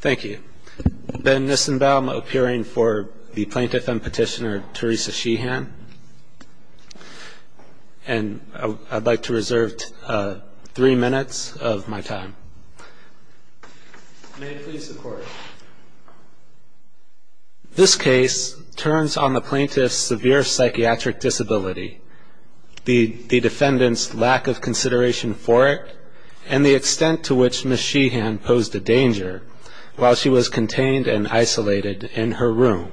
Thank you. Ben Nissenbaum appearing for the plaintiff and petitioner Teresa Sheehan. And I'd like to reserve three minutes of my time. May it please the court. This case turns on the plaintiff's severe psychiatric disability, the defendant's lack of consideration for it, and the extent to which Ms. Sheehan posed a danger while she was contained and isolated in her room.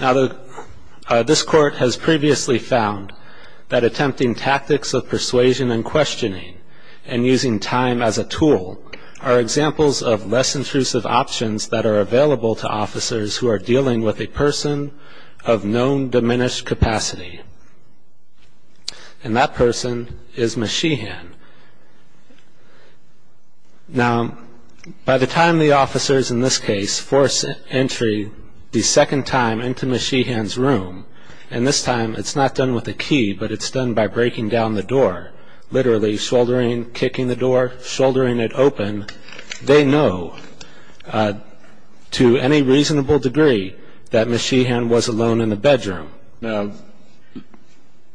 Now, this court has previously found that attempting tactics of persuasion and questioning and using time as a tool are examples of less intrusive options that are available to officers who are dealing with a person of known diminished capacity. And that person is Ms. Sheehan. Now, by the time the officers in this case force entry the second time into Ms. Sheehan's room, and this time it's not done with a key, but it's done by breaking down the door, literally shouldering, kicking the door, shouldering it open, they know to any reasonable degree that Ms. Sheehan was alone in the bedroom. Now,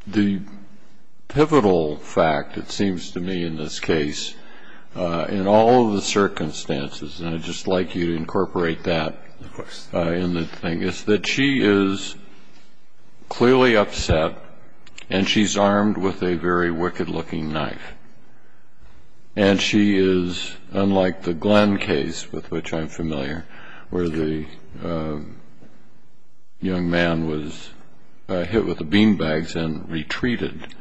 the pivotal fact, it seems to me in this case, in all of the circumstances, and I'd just like you to incorporate that in the thing, is that she is clearly upset and she's armed with a very wicked-looking knife. And she is, unlike the Glenn case, with which I'm familiar, where the young man was hit with the beanbags and retreated,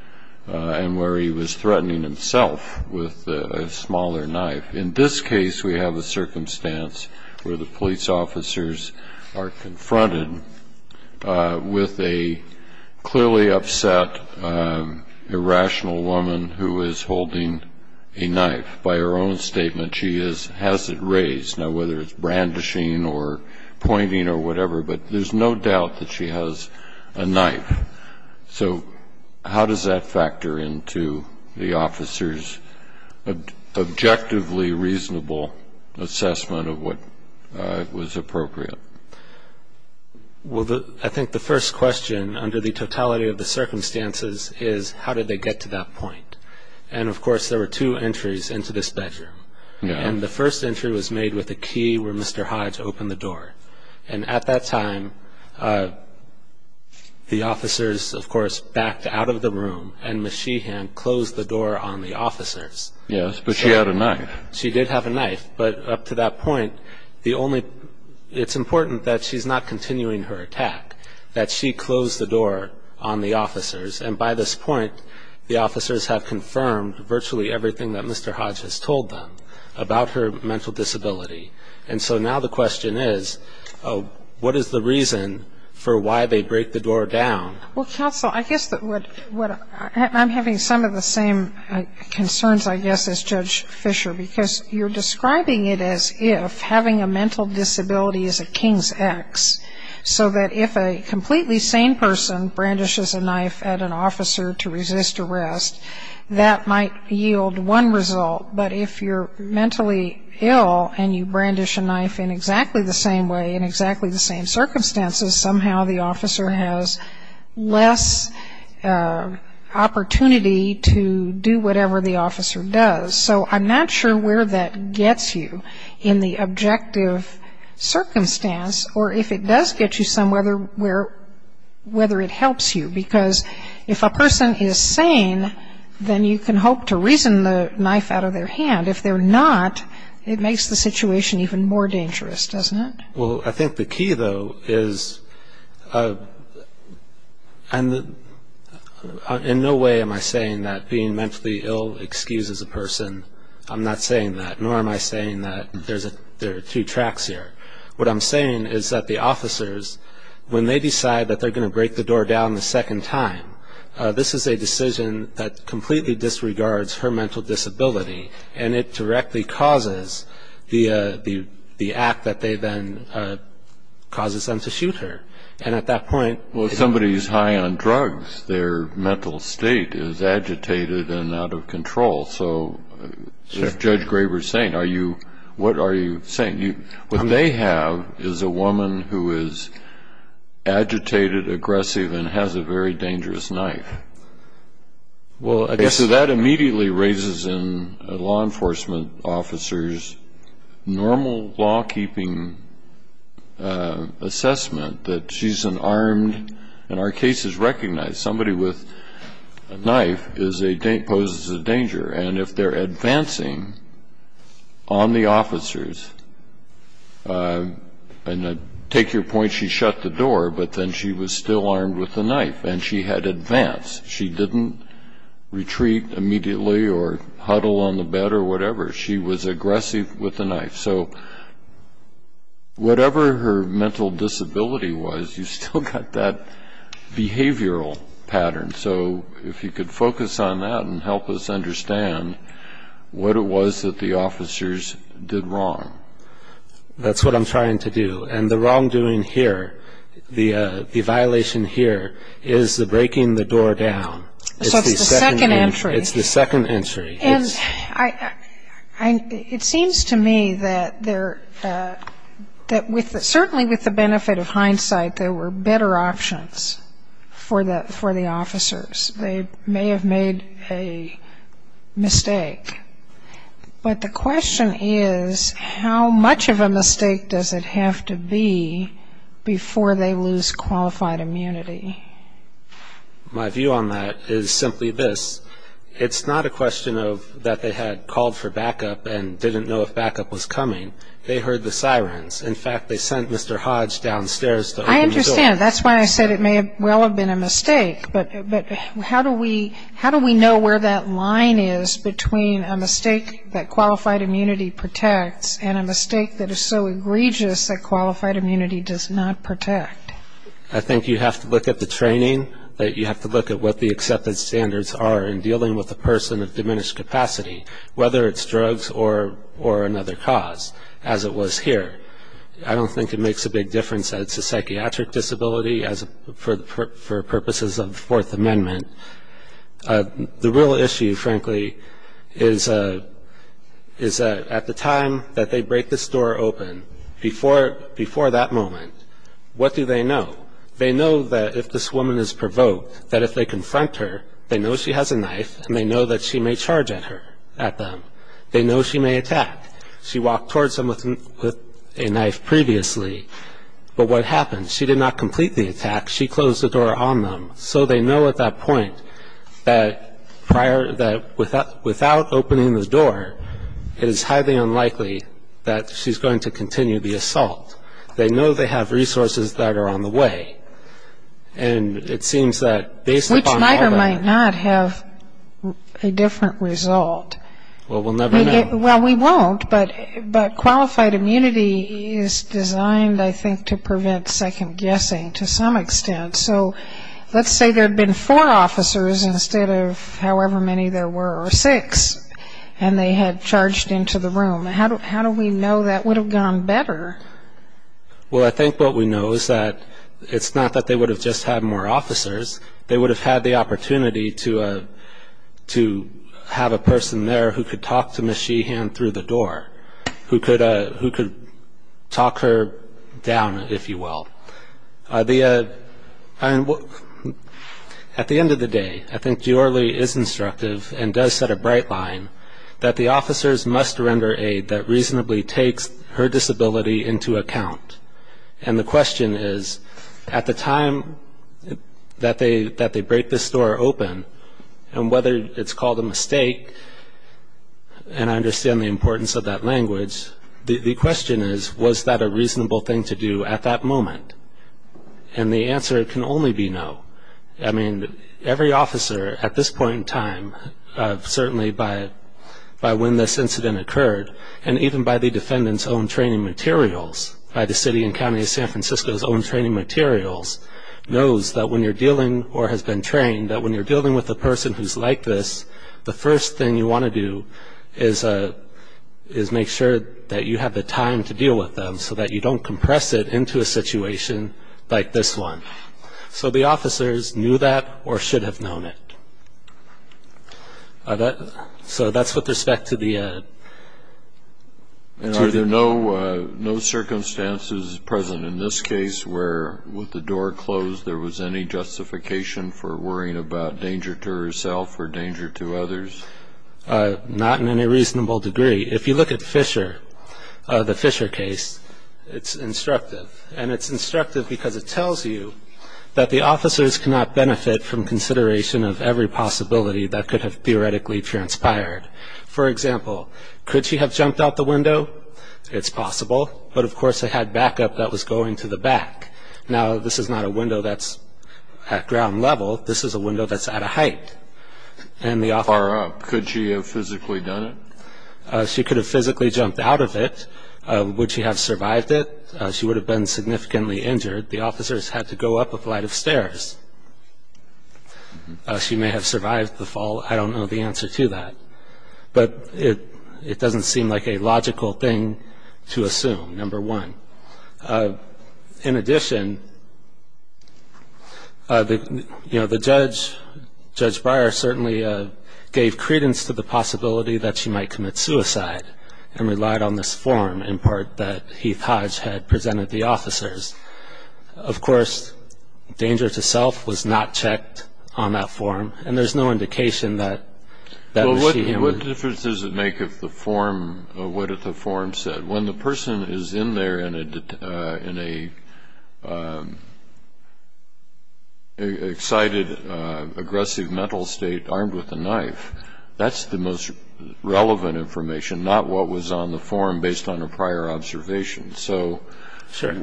and where he was threatening himself with a smaller knife. In this case, we have a circumstance where the police officers are confronted with a clearly upset, irrational woman who is holding a knife. By her own statement, she has it raised. Now, whether it's brandishing or pointing or whatever, but there's no doubt that she has a knife. So how does that factor into the officers' objectively reasonable assessment of what was appropriate? Well, I think the first question, under the totality of the circumstances, is how did they get to that point? And, of course, there were two entries into this bedroom. And the first entry was made with a key where Mr. Hodge opened the door. And at that time, the officers, of course, backed out of the room, and Ms. Sheehan closed the door on the officers. Yes, but she had a knife. She did have a knife. But up to that point, it's important that she's not continuing her attack, that she closed the door on the officers. And by this point, the officers have confirmed virtually everything that Mr. Hodge has told them about her mental disability. And so now the question is, what is the reason for why they break the door down? Well, counsel, I guess I'm having some of the same concerns, I guess, as Judge Fisher, because you're describing it as if having a mental disability is a king's ex, so that if a completely sane person brandishes a knife at an officer to resist arrest, that might yield one result. But if you're mentally ill and you brandish a knife in exactly the same way, in exactly the same circumstances, somehow the officer has less opportunity to do whatever the officer does. So I'm not sure where that gets you in the objective circumstance, or if it does get you some, whether it helps you. Because if a person is sane, then you can hope to reason the knife out of their hand. If they're not, it makes the situation even more dangerous, doesn't it? Well, I think the key, though, is in no way am I saying that being mentally ill excuses a person. I'm not saying that, nor am I saying that there are two tracks here. What I'm saying is that the officers, when they decide that they're going to break the door down a second time, this is a decision that completely disregards her mental disability, and it directly causes the act that then causes them to shoot her. And at that point- Well, if somebody is high on drugs, their mental state is agitated and out of control. So if Judge Graber is sane, what are you saying? What they have is a woman who is agitated, aggressive, and has a very dangerous knife. Well, I guess that immediately raises in law enforcement officers normal law-keeping assessment that she's an armed- and our case is recognized. Somebody with a knife poses a danger. And if they're advancing on the officers- and take your point, she shut the door, but then she was still armed with a knife, and she had advanced. She didn't retreat immediately or huddle on the bed or whatever. She was aggressive with the knife. So whatever her mental disability was, you still got that behavioral pattern. So if you could focus on that and help us understand what it was that the officers did wrong. That's what I'm trying to do. And the wrongdoing here, the violation here, is the breaking the door down. So it's the second entry. It's the second entry. And it seems to me that certainly with the benefit of hindsight, there were better options for the officers. They may have made a mistake. But the question is, how much of a mistake does it have to be before they lose qualified immunity? My view on that is simply this. It's not a question that they had called for backup and didn't know if backup was coming. They heard the sirens. In fact, they sent Mr. Hodge downstairs to open the door. I understand. That's why I said it may well have been a mistake. But how do we know where that line is between a mistake that qualified immunity protects and a mistake that is so egregious that qualified immunity does not protect? I think you have to look at the training. You have to look at what the accepted standards are in dealing with a person of diminished capacity, whether it's drugs or another cause, as it was here. I don't think it makes a big difference that it's a psychiatric disability for purposes of the Fourth Amendment. The real issue, frankly, is at the time that they break this door open, before that moment, what do they know? They know that if this woman is provoked, that if they confront her, they know she has a knife and they know that she may charge at them. They know she may attack. She walked towards them with a knife previously. But what happens? She did not complete the attack. She closed the door on them. So they know at that point that without opening the door, it is highly unlikely that she's going to continue the assault. They know they have resources that are on the way. And it seems that based upon all that... Which might or might not have a different result. Well, we'll never know. Well, we won't. But qualified immunity is designed, I think, to prevent second guessing to some extent. So let's say there had been four officers instead of however many there were, or six, and they had charged into the room. How do we know that would have gone better? Well, I think what we know is that it's not that they would have just had more officers. They would have had the opportunity to have a person there who could talk to Ms. Sheehan through the door, who could talk her down, if you will. At the end of the day, I think Giordi is instructive and does set a bright line that the officers must render aid that reasonably takes her disability into account. And the question is, at the time that they break this door open, and whether it's called a mistake, and I understand the importance of that language, the question is, was that a reasonable thing to do at that moment? And the answer can only be no. I mean, every officer at this point in time, certainly by when this incident occurred, and even by the defendant's own training materials, by the city and county of San Francisco's own training materials, knows that when you're dealing, or has been trained, that when you're dealing with a person who's like this, the first thing you want to do is make sure that you have the time to deal with them so that you don't compress it into a situation like this one. So the officers knew that or should have known it. So that's with respect to the... And are there no circumstances present in this case where, with the door closed, there was any justification for worrying about danger to herself or danger to others? Not in any reasonable degree. If you look at Fisher, the Fisher case, it's instructive. And it's instructive because it tells you that the officers cannot benefit from consideration of every possibility that could have theoretically transpired. For example, could she have jumped out the window? It's possible. But, of course, they had backup that was going to the back. Now, this is not a window that's at ground level. This is a window that's at a height. Far up. Could she have physically done it? She could have physically jumped out of it. Would she have survived it? She would have been significantly injured. The officers had to go up a flight of stairs. She may have survived the fall. I don't know the answer to that. But it doesn't seem like a logical thing to assume, number one. In addition, you know, the judge, Judge Breyer, certainly gave credence to the possibility that she might commit suicide and relied on this form in part that Heath Hodge had presented the officers. Of course, danger to self was not checked on that form, and there's no indication that she would. Well, what difference does it make what the form said? When the person is in there in an excited, aggressive mental state armed with a knife, that's the most relevant information, not what was on the form based on a prior observation. So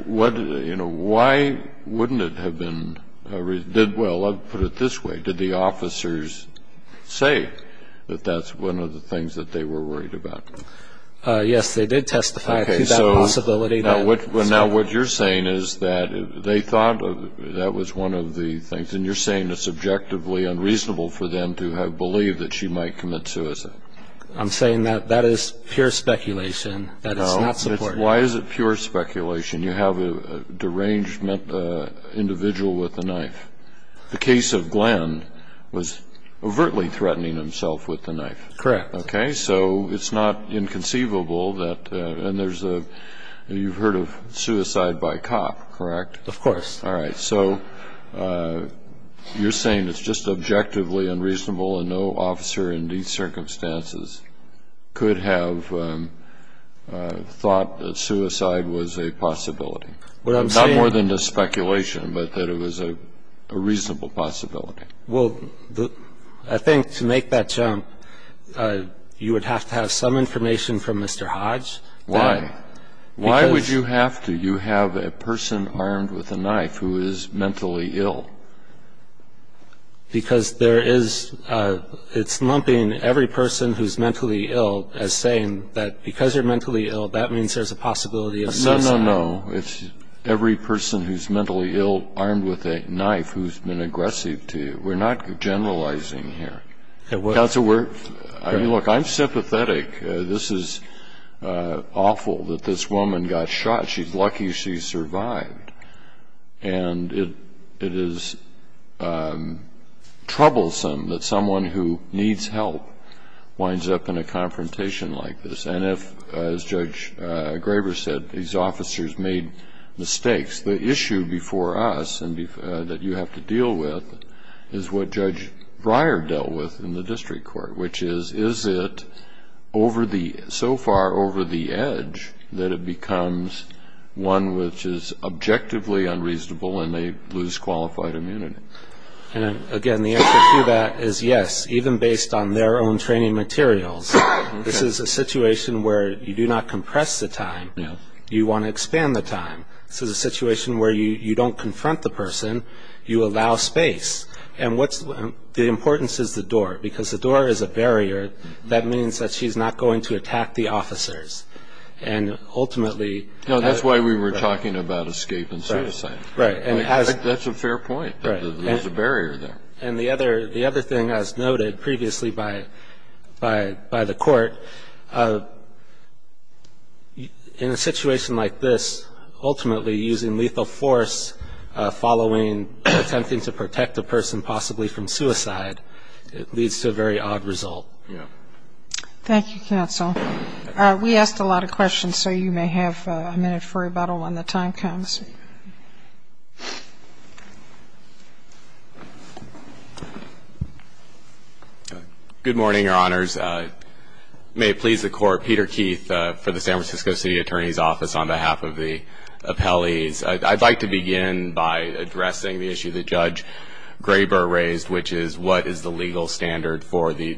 why wouldn't it have been? Well, I'll put it this way. Did the officers say that that's one of the things that they were worried about? Yes, they did testify to that possibility. Now, what you're saying is that they thought that was one of the things, and you're saying it's objectively unreasonable for them to have believed that she might commit suicide. I'm saying that that is pure speculation. That is not support. Why is it pure speculation? You have a deranged individual with a knife. The case of Glenn was overtly threatening himself with the knife. Correct. Okay, so it's not inconceivable that you've heard of suicide by cop, correct? Of course. All right, so you're saying it's just objectively unreasonable and no officer in these circumstances could have thought that suicide was a possibility. Not more than just speculation, but that it was a reasonable possibility. Well, I think to make that jump, you would have to have some information from Mr. Hodge. Why? Why would you have to? You have a person armed with a knife who is mentally ill. Because it's lumping every person who's mentally ill as saying that because you're mentally ill, that means there's a possibility of suicide. No, no, no. It's every person who's mentally ill armed with a knife who's been aggressive to you. We're not generalizing here. Counsel, look, I'm sympathetic. This is awful that this woman got shot. She's lucky she survived. And it is troublesome that someone who needs help winds up in a confrontation like this. And if, as Judge Graber said, these officers made mistakes, the issue before us that you have to deal with is what Judge Breyer dealt with in the district court, which is, is it so far over the edge that it becomes one which is objectively unreasonable and they lose qualified immunity? Again, the answer to that is yes, even based on their own training materials. This is a situation where you do not compress the time. You want to expand the time. This is a situation where you don't confront the person. You allow space. And the importance is the door, because the door is a barrier. That means that she's not going to attack the officers. And ultimately- No, that's why we were talking about escape and suicide. Right. That's a fair point. There's a barrier there. And the other thing, as noted previously by the court, in a situation like this, ultimately using lethal force following, attempting to protect a person possibly from suicide, it leads to a very odd result. Yeah. Thank you, counsel. We asked a lot of questions, so you may have a minute for rebuttal when the time comes. Good morning, Your Honors. May it please the Court, Peter Keith for the San Francisco City Attorney's Office on behalf of the appellees. I'd like to begin by addressing the issue that Judge Graber raised, which is what is the legal standard for the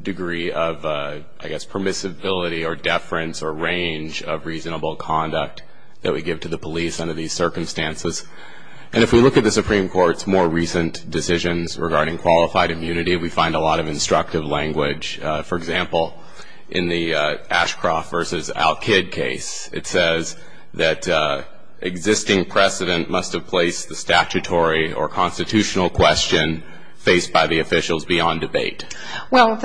degree of, I guess, permissibility or deference or range of reasonable conduct that we give to the police under these circumstances. And if we look at the Supreme Court's more recent decisions regarding qualified immunity, we find a lot of instructive language. For example, in the Ashcroft versus Al-Kid case, it says that existing precedent must have placed the statutory or constitutional question faced by the officials beyond debate. Well,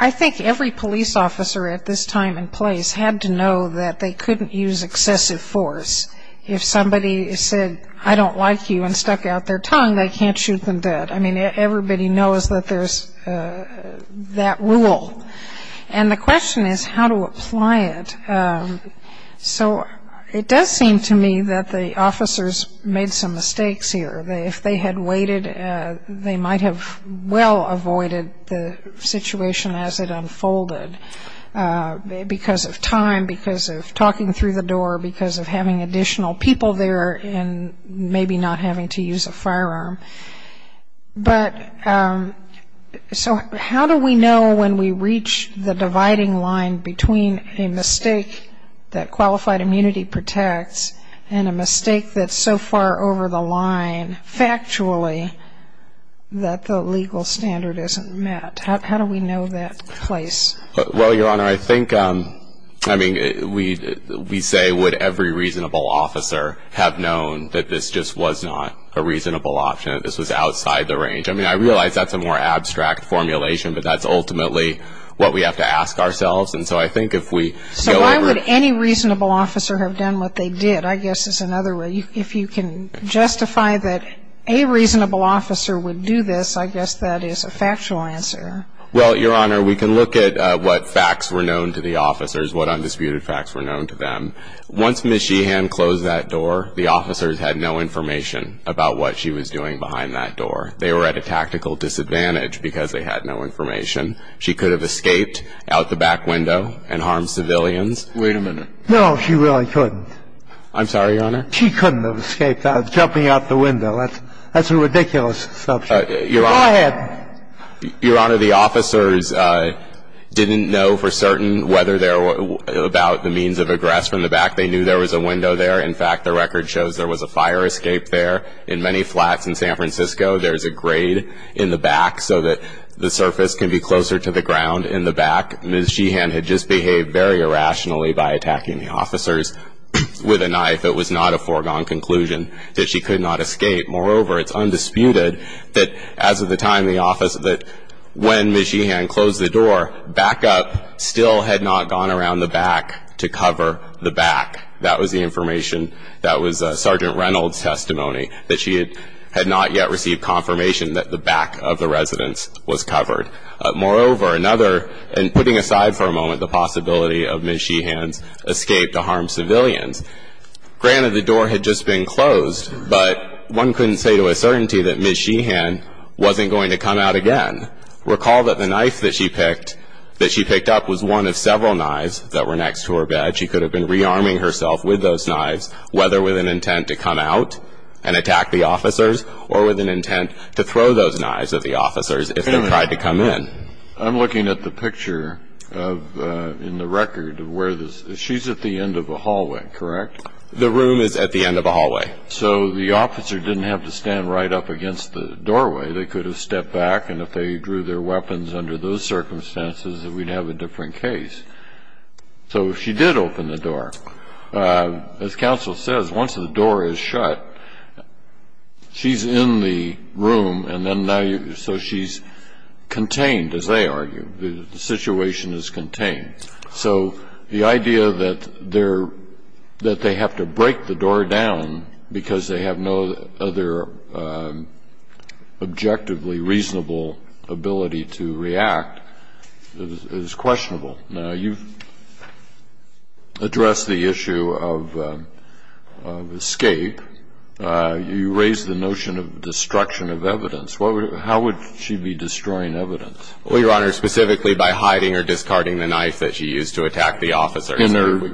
I think every police officer at this time and place had to know that they couldn't use excessive force. If somebody said, I don't like you, and stuck out their tongue, they can't shoot them dead. I mean, everybody knows that there's that rule. And the question is how to apply it. So it does seem to me that the officers made some mistakes here. If they had waited, they might have well avoided the situation as it unfolded, because of time, because of talking through the door, because of having additional people there and maybe not having to use a firearm. But so how do we know when we reach the dividing line between a mistake that qualified immunity protects and a mistake that's so far over the line factually that the legal standard isn't met? How do we know that place? Well, Your Honor, I think, I mean, we say, would every reasonable officer have known that this just was not a reasonable option, that this was outside the range? I mean, I realize that's a more abstract formulation, but that's ultimately what we have to ask ourselves. And so I think if we go over it. So why would any reasonable officer have done what they did, I guess, is another way. If you can justify that a reasonable officer would do this, I guess that is a factual answer. Well, Your Honor, we can look at what facts were known to the officers, what undisputed facts were known to them. Once Ms. Sheehan closed that door, the officers had no information about what she was doing behind that door. They were at a tactical disadvantage because they had no information. She could have escaped out the back window and harmed civilians. Wait a minute. No, she really couldn't. I'm sorry, Your Honor. She couldn't have escaped jumping out the window. That's a ridiculous assumption. Go ahead. Your Honor, the officers didn't know for certain whether they were about the means of aggress from the back. They knew there was a window there. In fact, the record shows there was a fire escape there. In many flats in San Francisco, there's a grade in the back so that the surface can be closer to the ground in the back. Ms. Sheehan had just behaved very irrationally by attacking the officers with a knife. It was not a foregone conclusion that she could not escape. Moreover, it's undisputed that as of the time the officers, when Ms. Sheehan closed the door, backup still had not gone around the back to cover the back. That was the information. That was Sergeant Reynolds' testimony, that she had not yet received confirmation that the back of the residence was covered. Moreover, another, and putting aside for a moment the possibility of Ms. Sheehan's escape to harm civilians, granted the door had just been closed, but one couldn't say to a certainty that Ms. Sheehan wasn't going to come out again. Recall that the knife that she picked up was one of several knives that were next to her bed. She could have been rearming herself with those knives, whether with an intent to come out and attack the officers or with an intent to throw those knives at the officers if they tried to come in. I'm looking at the picture in the record where she's at the end of a hallway, correct? The room is at the end of a hallway. So the officer didn't have to stand right up against the doorway. They could have stepped back, and if they drew their weapons under those circumstances, we'd have a different case. So she did open the door. As counsel says, once the door is shut, she's in the room, and then now you're so she's contained, as they argue. The situation is contained. So the idea that they have to break the door down because they have no other objectively reasonable ability to react is questionable. Now, you've addressed the issue of escape. You raised the notion of destruction of evidence. How would she be destroying evidence? Well, Your Honor, specifically by hiding or discarding the knife that she used to attack the officers. In her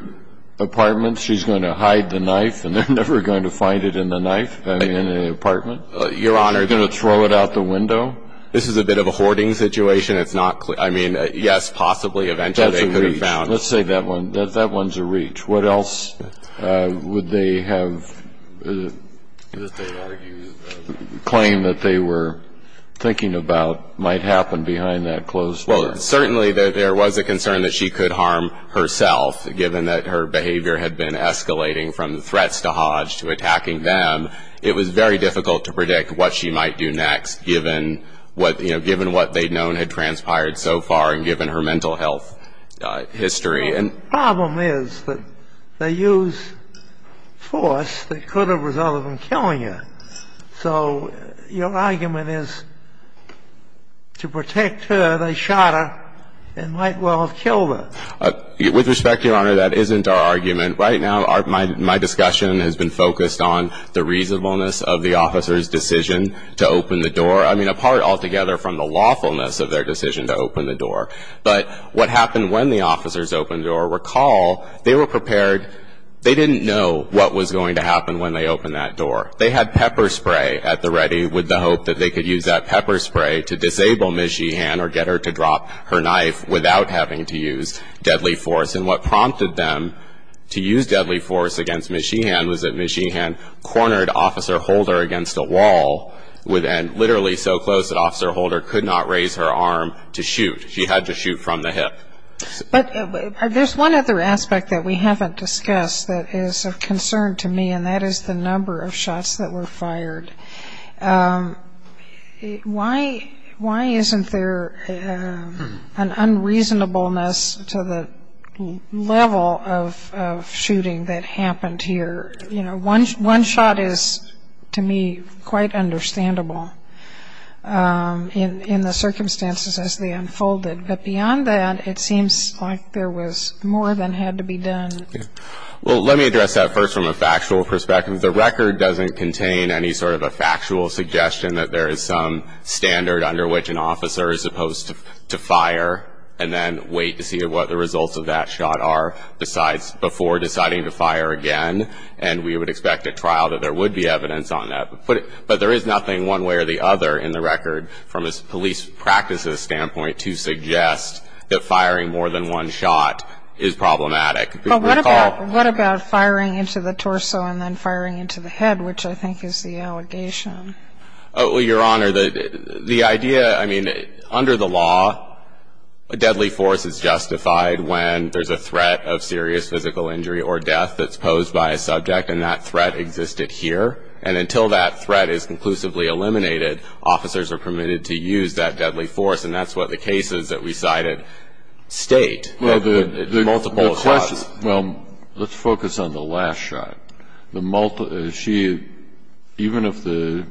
apartment, she's going to hide the knife, and they're never going to find it in the knife in the apartment? Your Honor. They're going to throw it out the window? This is a bit of a hoarding situation. It's not clear. I mean, yes, possibly eventually they could have found it. That's a reach. Let's say that one's a reach. What else would they have claimed that they were thinking about might happen behind that closed door? Well, certainly there was a concern that she could harm herself, given that her behavior had been escalating from threats to Hodge to attacking them. It was very difficult to predict what she might do next, given what they'd known had transpired so far and given her mental health history. The problem is that they used force that could have resulted in killing her. So your argument is to protect her, they shot her and might well have killed her. With respect, Your Honor, that isn't our argument. Right now my discussion has been focused on the reasonableness of the officer's decision to open the door. I mean, apart altogether from the lawfulness of their decision to open the door. But what happened when the officers opened the door, recall they were prepared. They didn't know what was going to happen when they opened that door. They had pepper spray at the ready with the hope that they could use that pepper spray to disable Ms. Sheehan was that Ms. Sheehan cornered Officer Holder against a wall, and literally so close that Officer Holder could not raise her arm to shoot. She had to shoot from the hip. But there's one other aspect that we haven't discussed that is of concern to me, and that is the number of shots that were fired. Why isn't there an unreasonableness to the level of shooting that happened here? You know, one shot is, to me, quite understandable in the circumstances as they unfolded. But beyond that, it seems like there was more than had to be done. Well, let me address that first from a factual perspective. The record doesn't contain any sort of a factual suggestion that there is some standard under which an officer is supposed to fire and then wait to see what the results of that shot are before deciding to fire again. And we would expect at trial that there would be evidence on that. But there is nothing one way or the other in the record from a police practices standpoint to suggest that firing more than one shot is problematic. But what about firing into the torso and then firing into the head, which I think is the allegation? Well, Your Honor, the idea, I mean, under the law, a deadly force is justified when there's a threat of serious physical injury or death that's posed by a subject, and that threat existed here. And until that threat is conclusively eliminated, officers are permitted to use that deadly force. And that's what the cases that we cited state. Multiple shots. Well, let's focus on the last shot. Even if the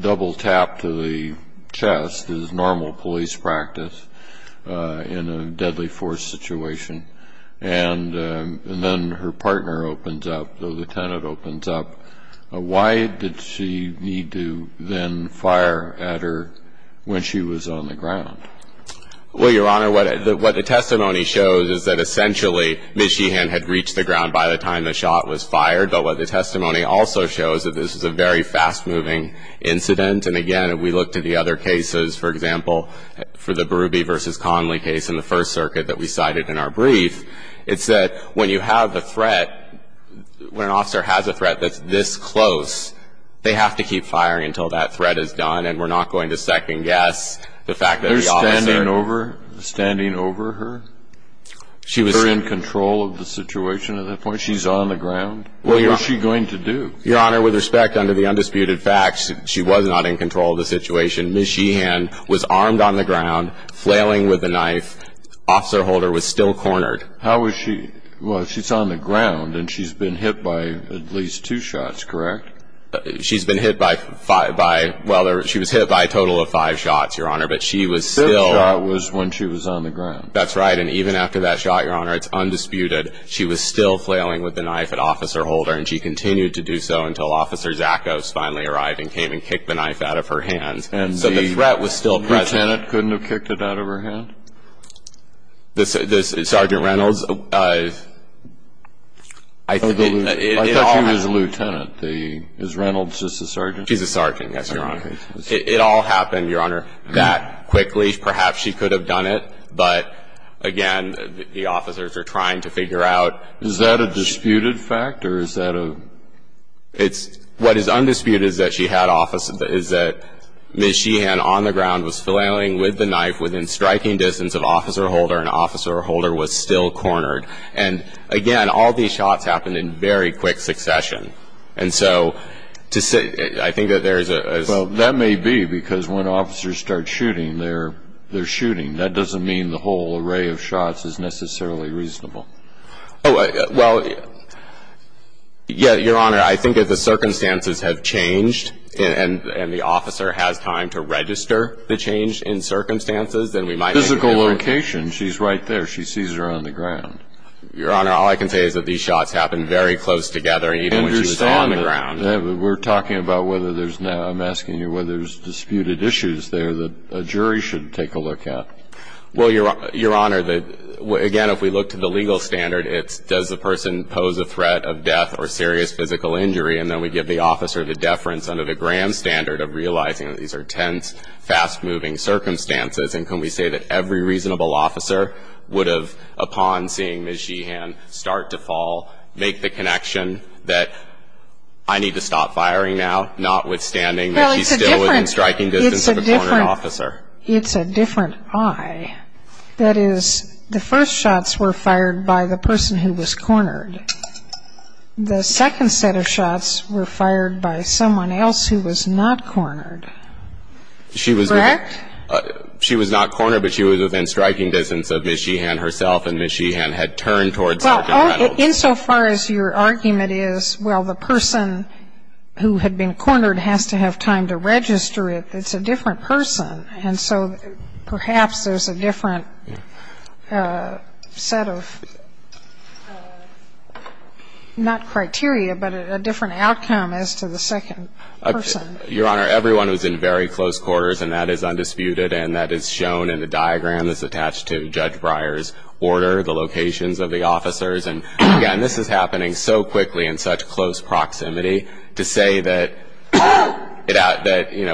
double tap to the chest is normal police practice in a deadly force situation and then her partner opens up, the lieutenant opens up, why did she need to then fire at her when she was on the ground? Well, Your Honor, what the testimony shows is that, essentially, Ms. Sheehan had reached the ground by the time the shot was fired. But what the testimony also shows is that this was a very fast-moving incident. And, again, if we look to the other cases, for example, for the Berube v. Conley case in the First Circuit that we cited in our brief, it's that when you have a threat, when an officer has a threat that's this close, they have to keep firing until that threat is done. And we're not going to second-guess the fact that the officer ---- They're standing over her? She was in control of the situation at that point? She's on the ground? What was she going to do? Your Honor, with respect, under the undisputed facts, she was not in control of the situation. Ms. Sheehan was armed on the ground, flailing with a knife. Officer Holder was still cornered. How was she? Well, she's on the ground, and she's been hit by at least two shots, correct? She's been hit by five by ---- Well, she was hit by a total of five shots, Your Honor, but she was still ---- Fifth shot was when she was on the ground. That's right. And even after that shot, Your Honor, it's undisputed, she was still flailing with the knife at Officer Holder, and she continued to do so until Officer Zachos finally arrived and came and kicked the knife out of her hands. So the threat was still present. And the lieutenant couldn't have kicked it out of her hand? Sergeant Reynolds, I think it all happened. I thought she was a lieutenant. Is Reynolds just a sergeant? She's a sergeant, yes, Your Honor. It all happened, Your Honor, that quickly. Perhaps she could have done it. But, again, the officers are trying to figure out ---- Is that a disputed fact, or is that a ---- What is undisputed is that she had office, is that Ms. Sheehan on the ground was flailing with the knife within striking distance of Officer Holder, and Officer Holder was still cornered. And, again, all these shots happened in very quick succession. And so to say ---- I think that there is a ---- Well, that may be because when officers start shooting, they're shooting. That doesn't mean the whole array of shots is necessarily reasonable. Oh, well, yes, Your Honor, I think if the circumstances have changed and the officer has time to register the change in circumstances, then we might be able to ---- Your Honor, all I can say is that these shots happened very close together, even when she was on the ground. We're talking about whether there's now ---- I'm asking you whether there's disputed issues there that a jury should take a look at. Well, Your Honor, again, if we look to the legal standard, it's does the person pose a threat of death or serious physical injury, and then we give the officer the deference under the Graham standard of realizing that these are tense, fast-moving circumstances. And can we say that every reasonable officer would have, upon seeing Ms. Jehan start to fall, make the connection that I need to stop firing now, notwithstanding that she's still within striking distance of a cornered officer. It's a different I. That is, the first shots were fired by the person who was cornered. The second set of shots were fired by someone else who was not cornered. Correct? She was not cornered, but she was within striking distance of Ms. Jehan herself, and Ms. Jehan had turned towards Sergeant Reynolds. Well, insofar as your argument is, well, the person who had been cornered has to have time to register it, it's a different person. And so perhaps there's a different set of, not criteria, but a different outcome as to the second person. Your Honor, everyone was in very close quarters, and that is undisputed, and that is shown in the diagram that's attached to Judge Breyer's order, the locations of the officers. And, again, this is happening so quickly in such close proximity, to say that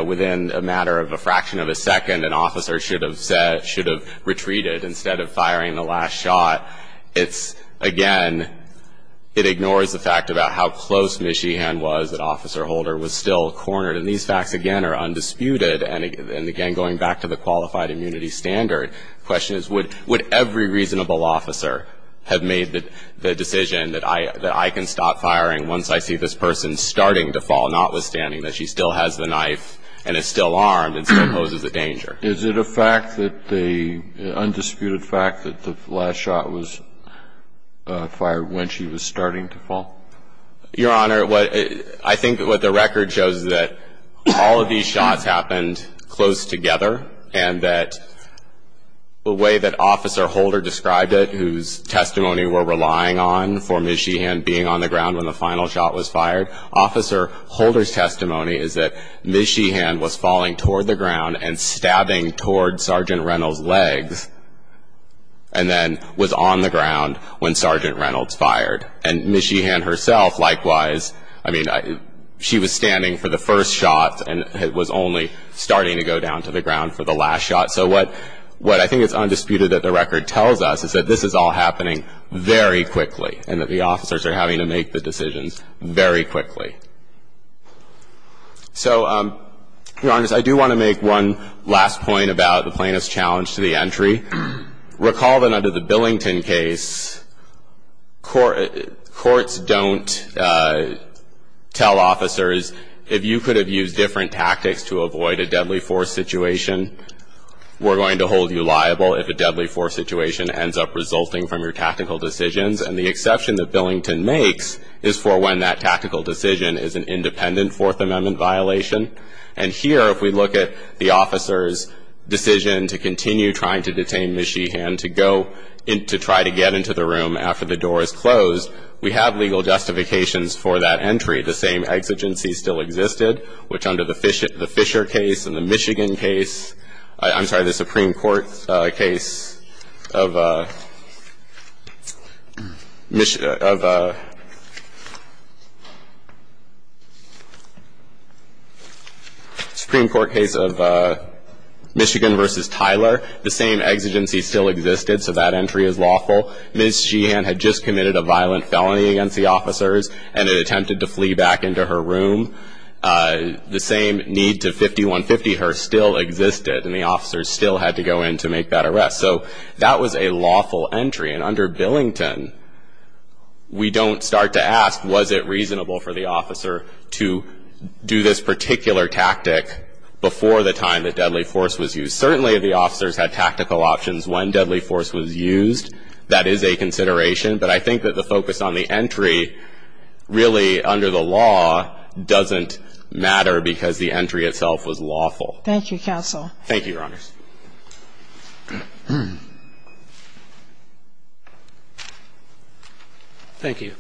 within a matter of a fraction of a second, an officer should have retreated instead of firing the last shot, it's, again, it ignores the fact about how close Ms. Jehan was, that Officer Holder was still cornered. And these facts, again, are undisputed. And, again, going back to the qualified immunity standard, the question is would every reasonable officer have made the decision that I can stop firing once I see this person starting to fall, notwithstanding that she still has the knife and is still armed and still poses a danger? Is it a fact that the undisputed fact that the last shot was fired when she was starting to fall? Your Honor, I think what the record shows is that all of these shots happened close together, and that the way that Officer Holder described it, whose testimony we're relying on for Ms. Jehan being on the ground when the final shot was fired, Officer Holder's testimony is that Ms. Jehan was falling toward the ground and stabbing toward Sergeant Reynolds' legs and then was on the ground when Sergeant Reynolds fired. And Ms. Jehan herself, likewise, I mean, she was standing for the first shot and was only starting to go down to the ground for the last shot. So what I think is undisputed that the record tells us is that this is all happening very quickly and that the officers are having to make the decisions very quickly. So, Your Honor, I do want to make one last point about the plaintiff's challenge to the entry. Recall that under the Billington case, courts don't tell officers, if you could have used different tactics to avoid a deadly force situation, we're going to hold you liable if a deadly force situation ends up resulting from your tactical decisions. And the exception that Billington makes is for when that tactical decision is an independent Fourth Amendment violation. And here, if we look at the officer's decision to continue trying to detain Ms. Jehan to go and to try to get into the room after the door is closed, we have legal justifications for that entry. The same exigency still existed, which under the Fisher case and the Michigan case, I'm sorry, the Supreme Court case of Michigan versus Tyler. The same exigency still existed, so that entry is lawful. Ms. Jehan had just committed a violent felony against the officers and had attempted to flee back into her room. The same need to 5150 her still existed, and the officers still had to go in to make that arrest. So that was a lawful entry, and under Billington, we don't start to ask, was it reasonable for the officer to do this particular tactic before the time the deadly force was used? Certainly, the officers had tactical options when deadly force was used. That is a consideration, but I think that the focus on the entry really, under the law, doesn't matter because the entry itself was lawful. Thank you, counsel. Thank you, Your Honors. Thank you.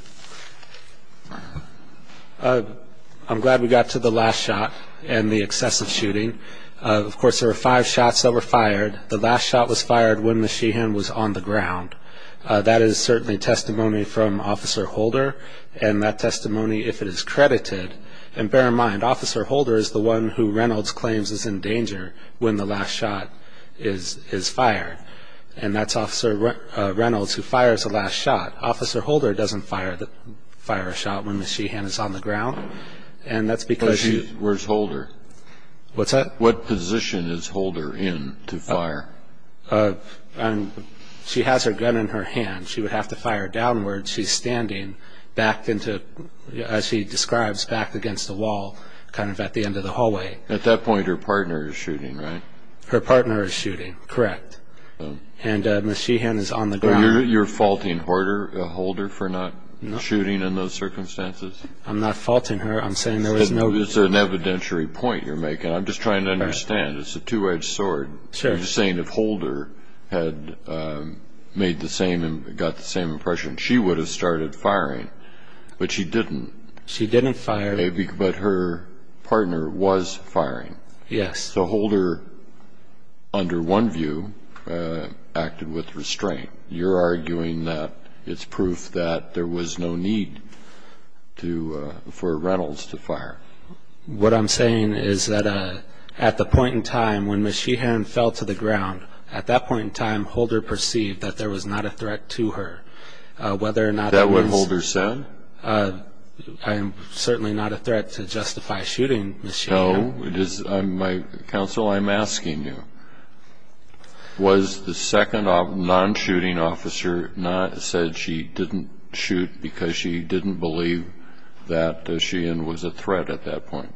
I'm glad we got to the last shot and the excessive shooting. Of course, there were five shots that were fired. The last shot was fired when Ms. Jehan was on the ground. That is certainly testimony from Officer Holder, and that testimony, if it is credited. And bear in mind, Officer Holder is the one who Reynolds claims is in danger when the last shot is fired, and that's Officer Reynolds who fires the last shot. Officer Holder doesn't fire a shot when Ms. Jehan is on the ground, and that's because she's- Where's Holder? What's that? When is Holder in to fire? She has her gun in her hand. She would have to fire downwards. She's standing back into, as she describes, back against the wall, kind of at the end of the hallway. At that point, her partner is shooting, right? Her partner is shooting, correct. And Ms. Jehan is on the ground. You're faulting Holder for not shooting in those circumstances? I'm not faulting her. I'm saying there was no- Is there an evidentiary point you're making? I'm just trying to understand. It's a two-edged sword. I'm just saying if Holder had made the same and got the same impression, she would have started firing, but she didn't. She didn't fire. But her partner was firing. Yes. So Holder, under one view, acted with restraint. You're arguing that it's proof that there was no need for Reynolds to fire. What I'm saying is that at the point in time when Ms. Jehan fell to the ground, at that point in time, Holder perceived that there was not a threat to her, whether or not it was- Is that what Holder said? I'm certainly not a threat to justify shooting Ms. Jehan. No. Counsel, I'm asking you. Was the second non-shooting officer said she didn't shoot because she didn't believe that Jehan was a threat at that point?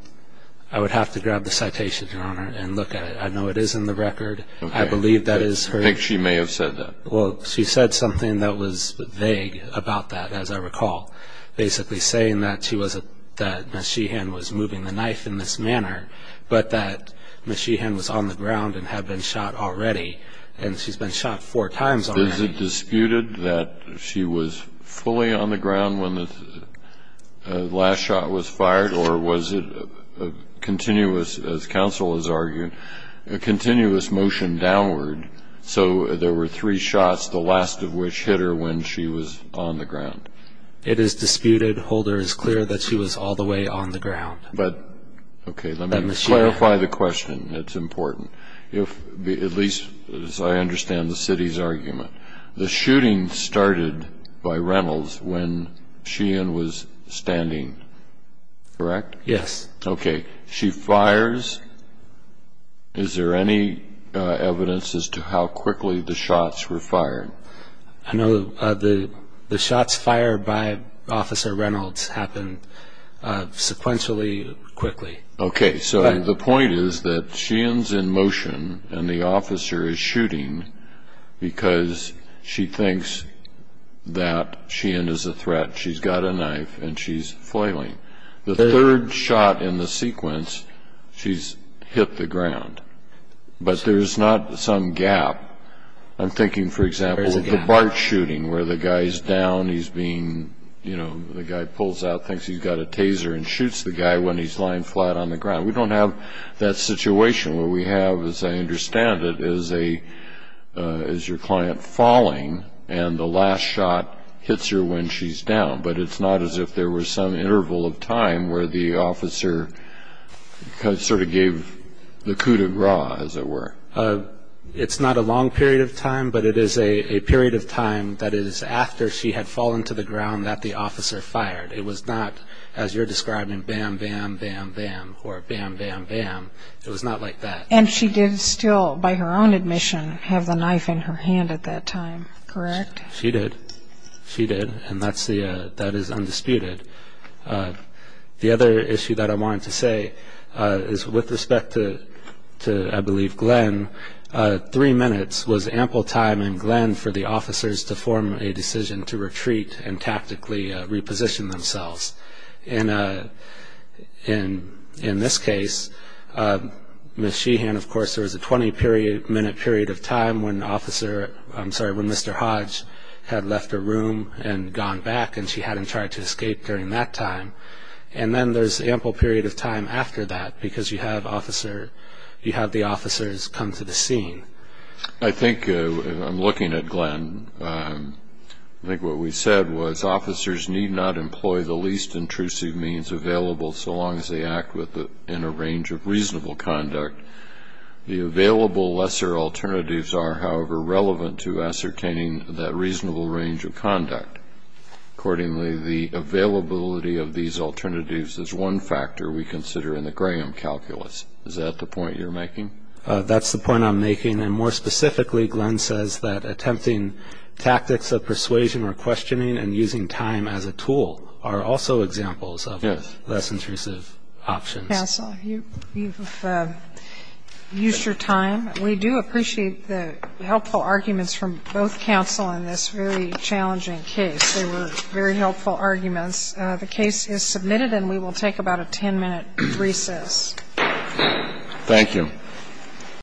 I would have to grab the citation, Your Honor, and look at it. I know it is in the record. I believe that is her- I think she may have said that. Well, she said something that was vague about that, as I recall, basically saying that Ms. Jehan was moving the knife in this manner, but that Ms. Jehan was on the ground and had been shot already, and she's been shot four times already. Is it disputed that she was fully on the ground when the last shot was fired, or was it continuous, as counsel has argued, a continuous motion downward, so there were three shots, the last of which hit her when she was on the ground? It is disputed. Holder is clear that she was all the way on the ground. Let me clarify the question. It's important, at least as I understand the city's argument. The shooting started by Reynolds when Jehan was standing, correct? Yes. Okay. She fires. Is there any evidence as to how quickly the shots were fired? I know the shots fired by Officer Reynolds happened sequentially quickly. Okay. So the point is that Jehan's in motion and the officer is shooting because she thinks that Jehan is a threat. She's got a knife and she's foiling. The third shot in the sequence, she's hit the ground, but there's not some gap. I'm thinking, for example, of the BART shooting where the guy is down. He's being, you know, the guy pulls out, thinks he's got a taser, and shoots the guy when he's lying flat on the ground. We don't have that situation where we have, as I understand it, is your client falling and the last shot hits her when she's down, but it's not as if there was some interval of time where the officer sort of gave the coup de grace, as it were. It's not a long period of time, but it is a period of time that is after she had fallen to the ground that the officer fired. It was not, as you're describing, bam, bam, bam, bam, or bam, bam, bam. It was not like that. And she did still, by her own admission, have the knife in her hand at that time, correct? She did. She did, and that is undisputed. The other issue that I wanted to say is with respect to, I believe, Glenn, three minutes was ample time in Glenn for the officers to form a decision to retreat and tactically reposition themselves. In this case, Ms. Sheehan, of course, there was a 20-minute period of time when Mr. Hodge had left her room and gone back, and she hadn't tried to escape during that time. And then there's ample period of time after that because you have the officers come to the scene. I think, looking at Glenn, I think what we said was officers need not employ the least intrusive means available so long as they act in a range of reasonable conduct. The available lesser alternatives are, however, relevant to ascertaining that reasonable range of conduct. Accordingly, the availability of these alternatives is one factor we consider in the Graham calculus. Is that the point you're making? That's the point I'm making. And more specifically, Glenn says that attempting tactics of persuasion or questioning and using time as a tool are also examples of less intrusive options. Counsel, you've used your time. We do appreciate the helpful arguments from both counsel in this very challenging case. They were very helpful arguments. The case is submitted, and we will take about a 10-minute recess. Thank you.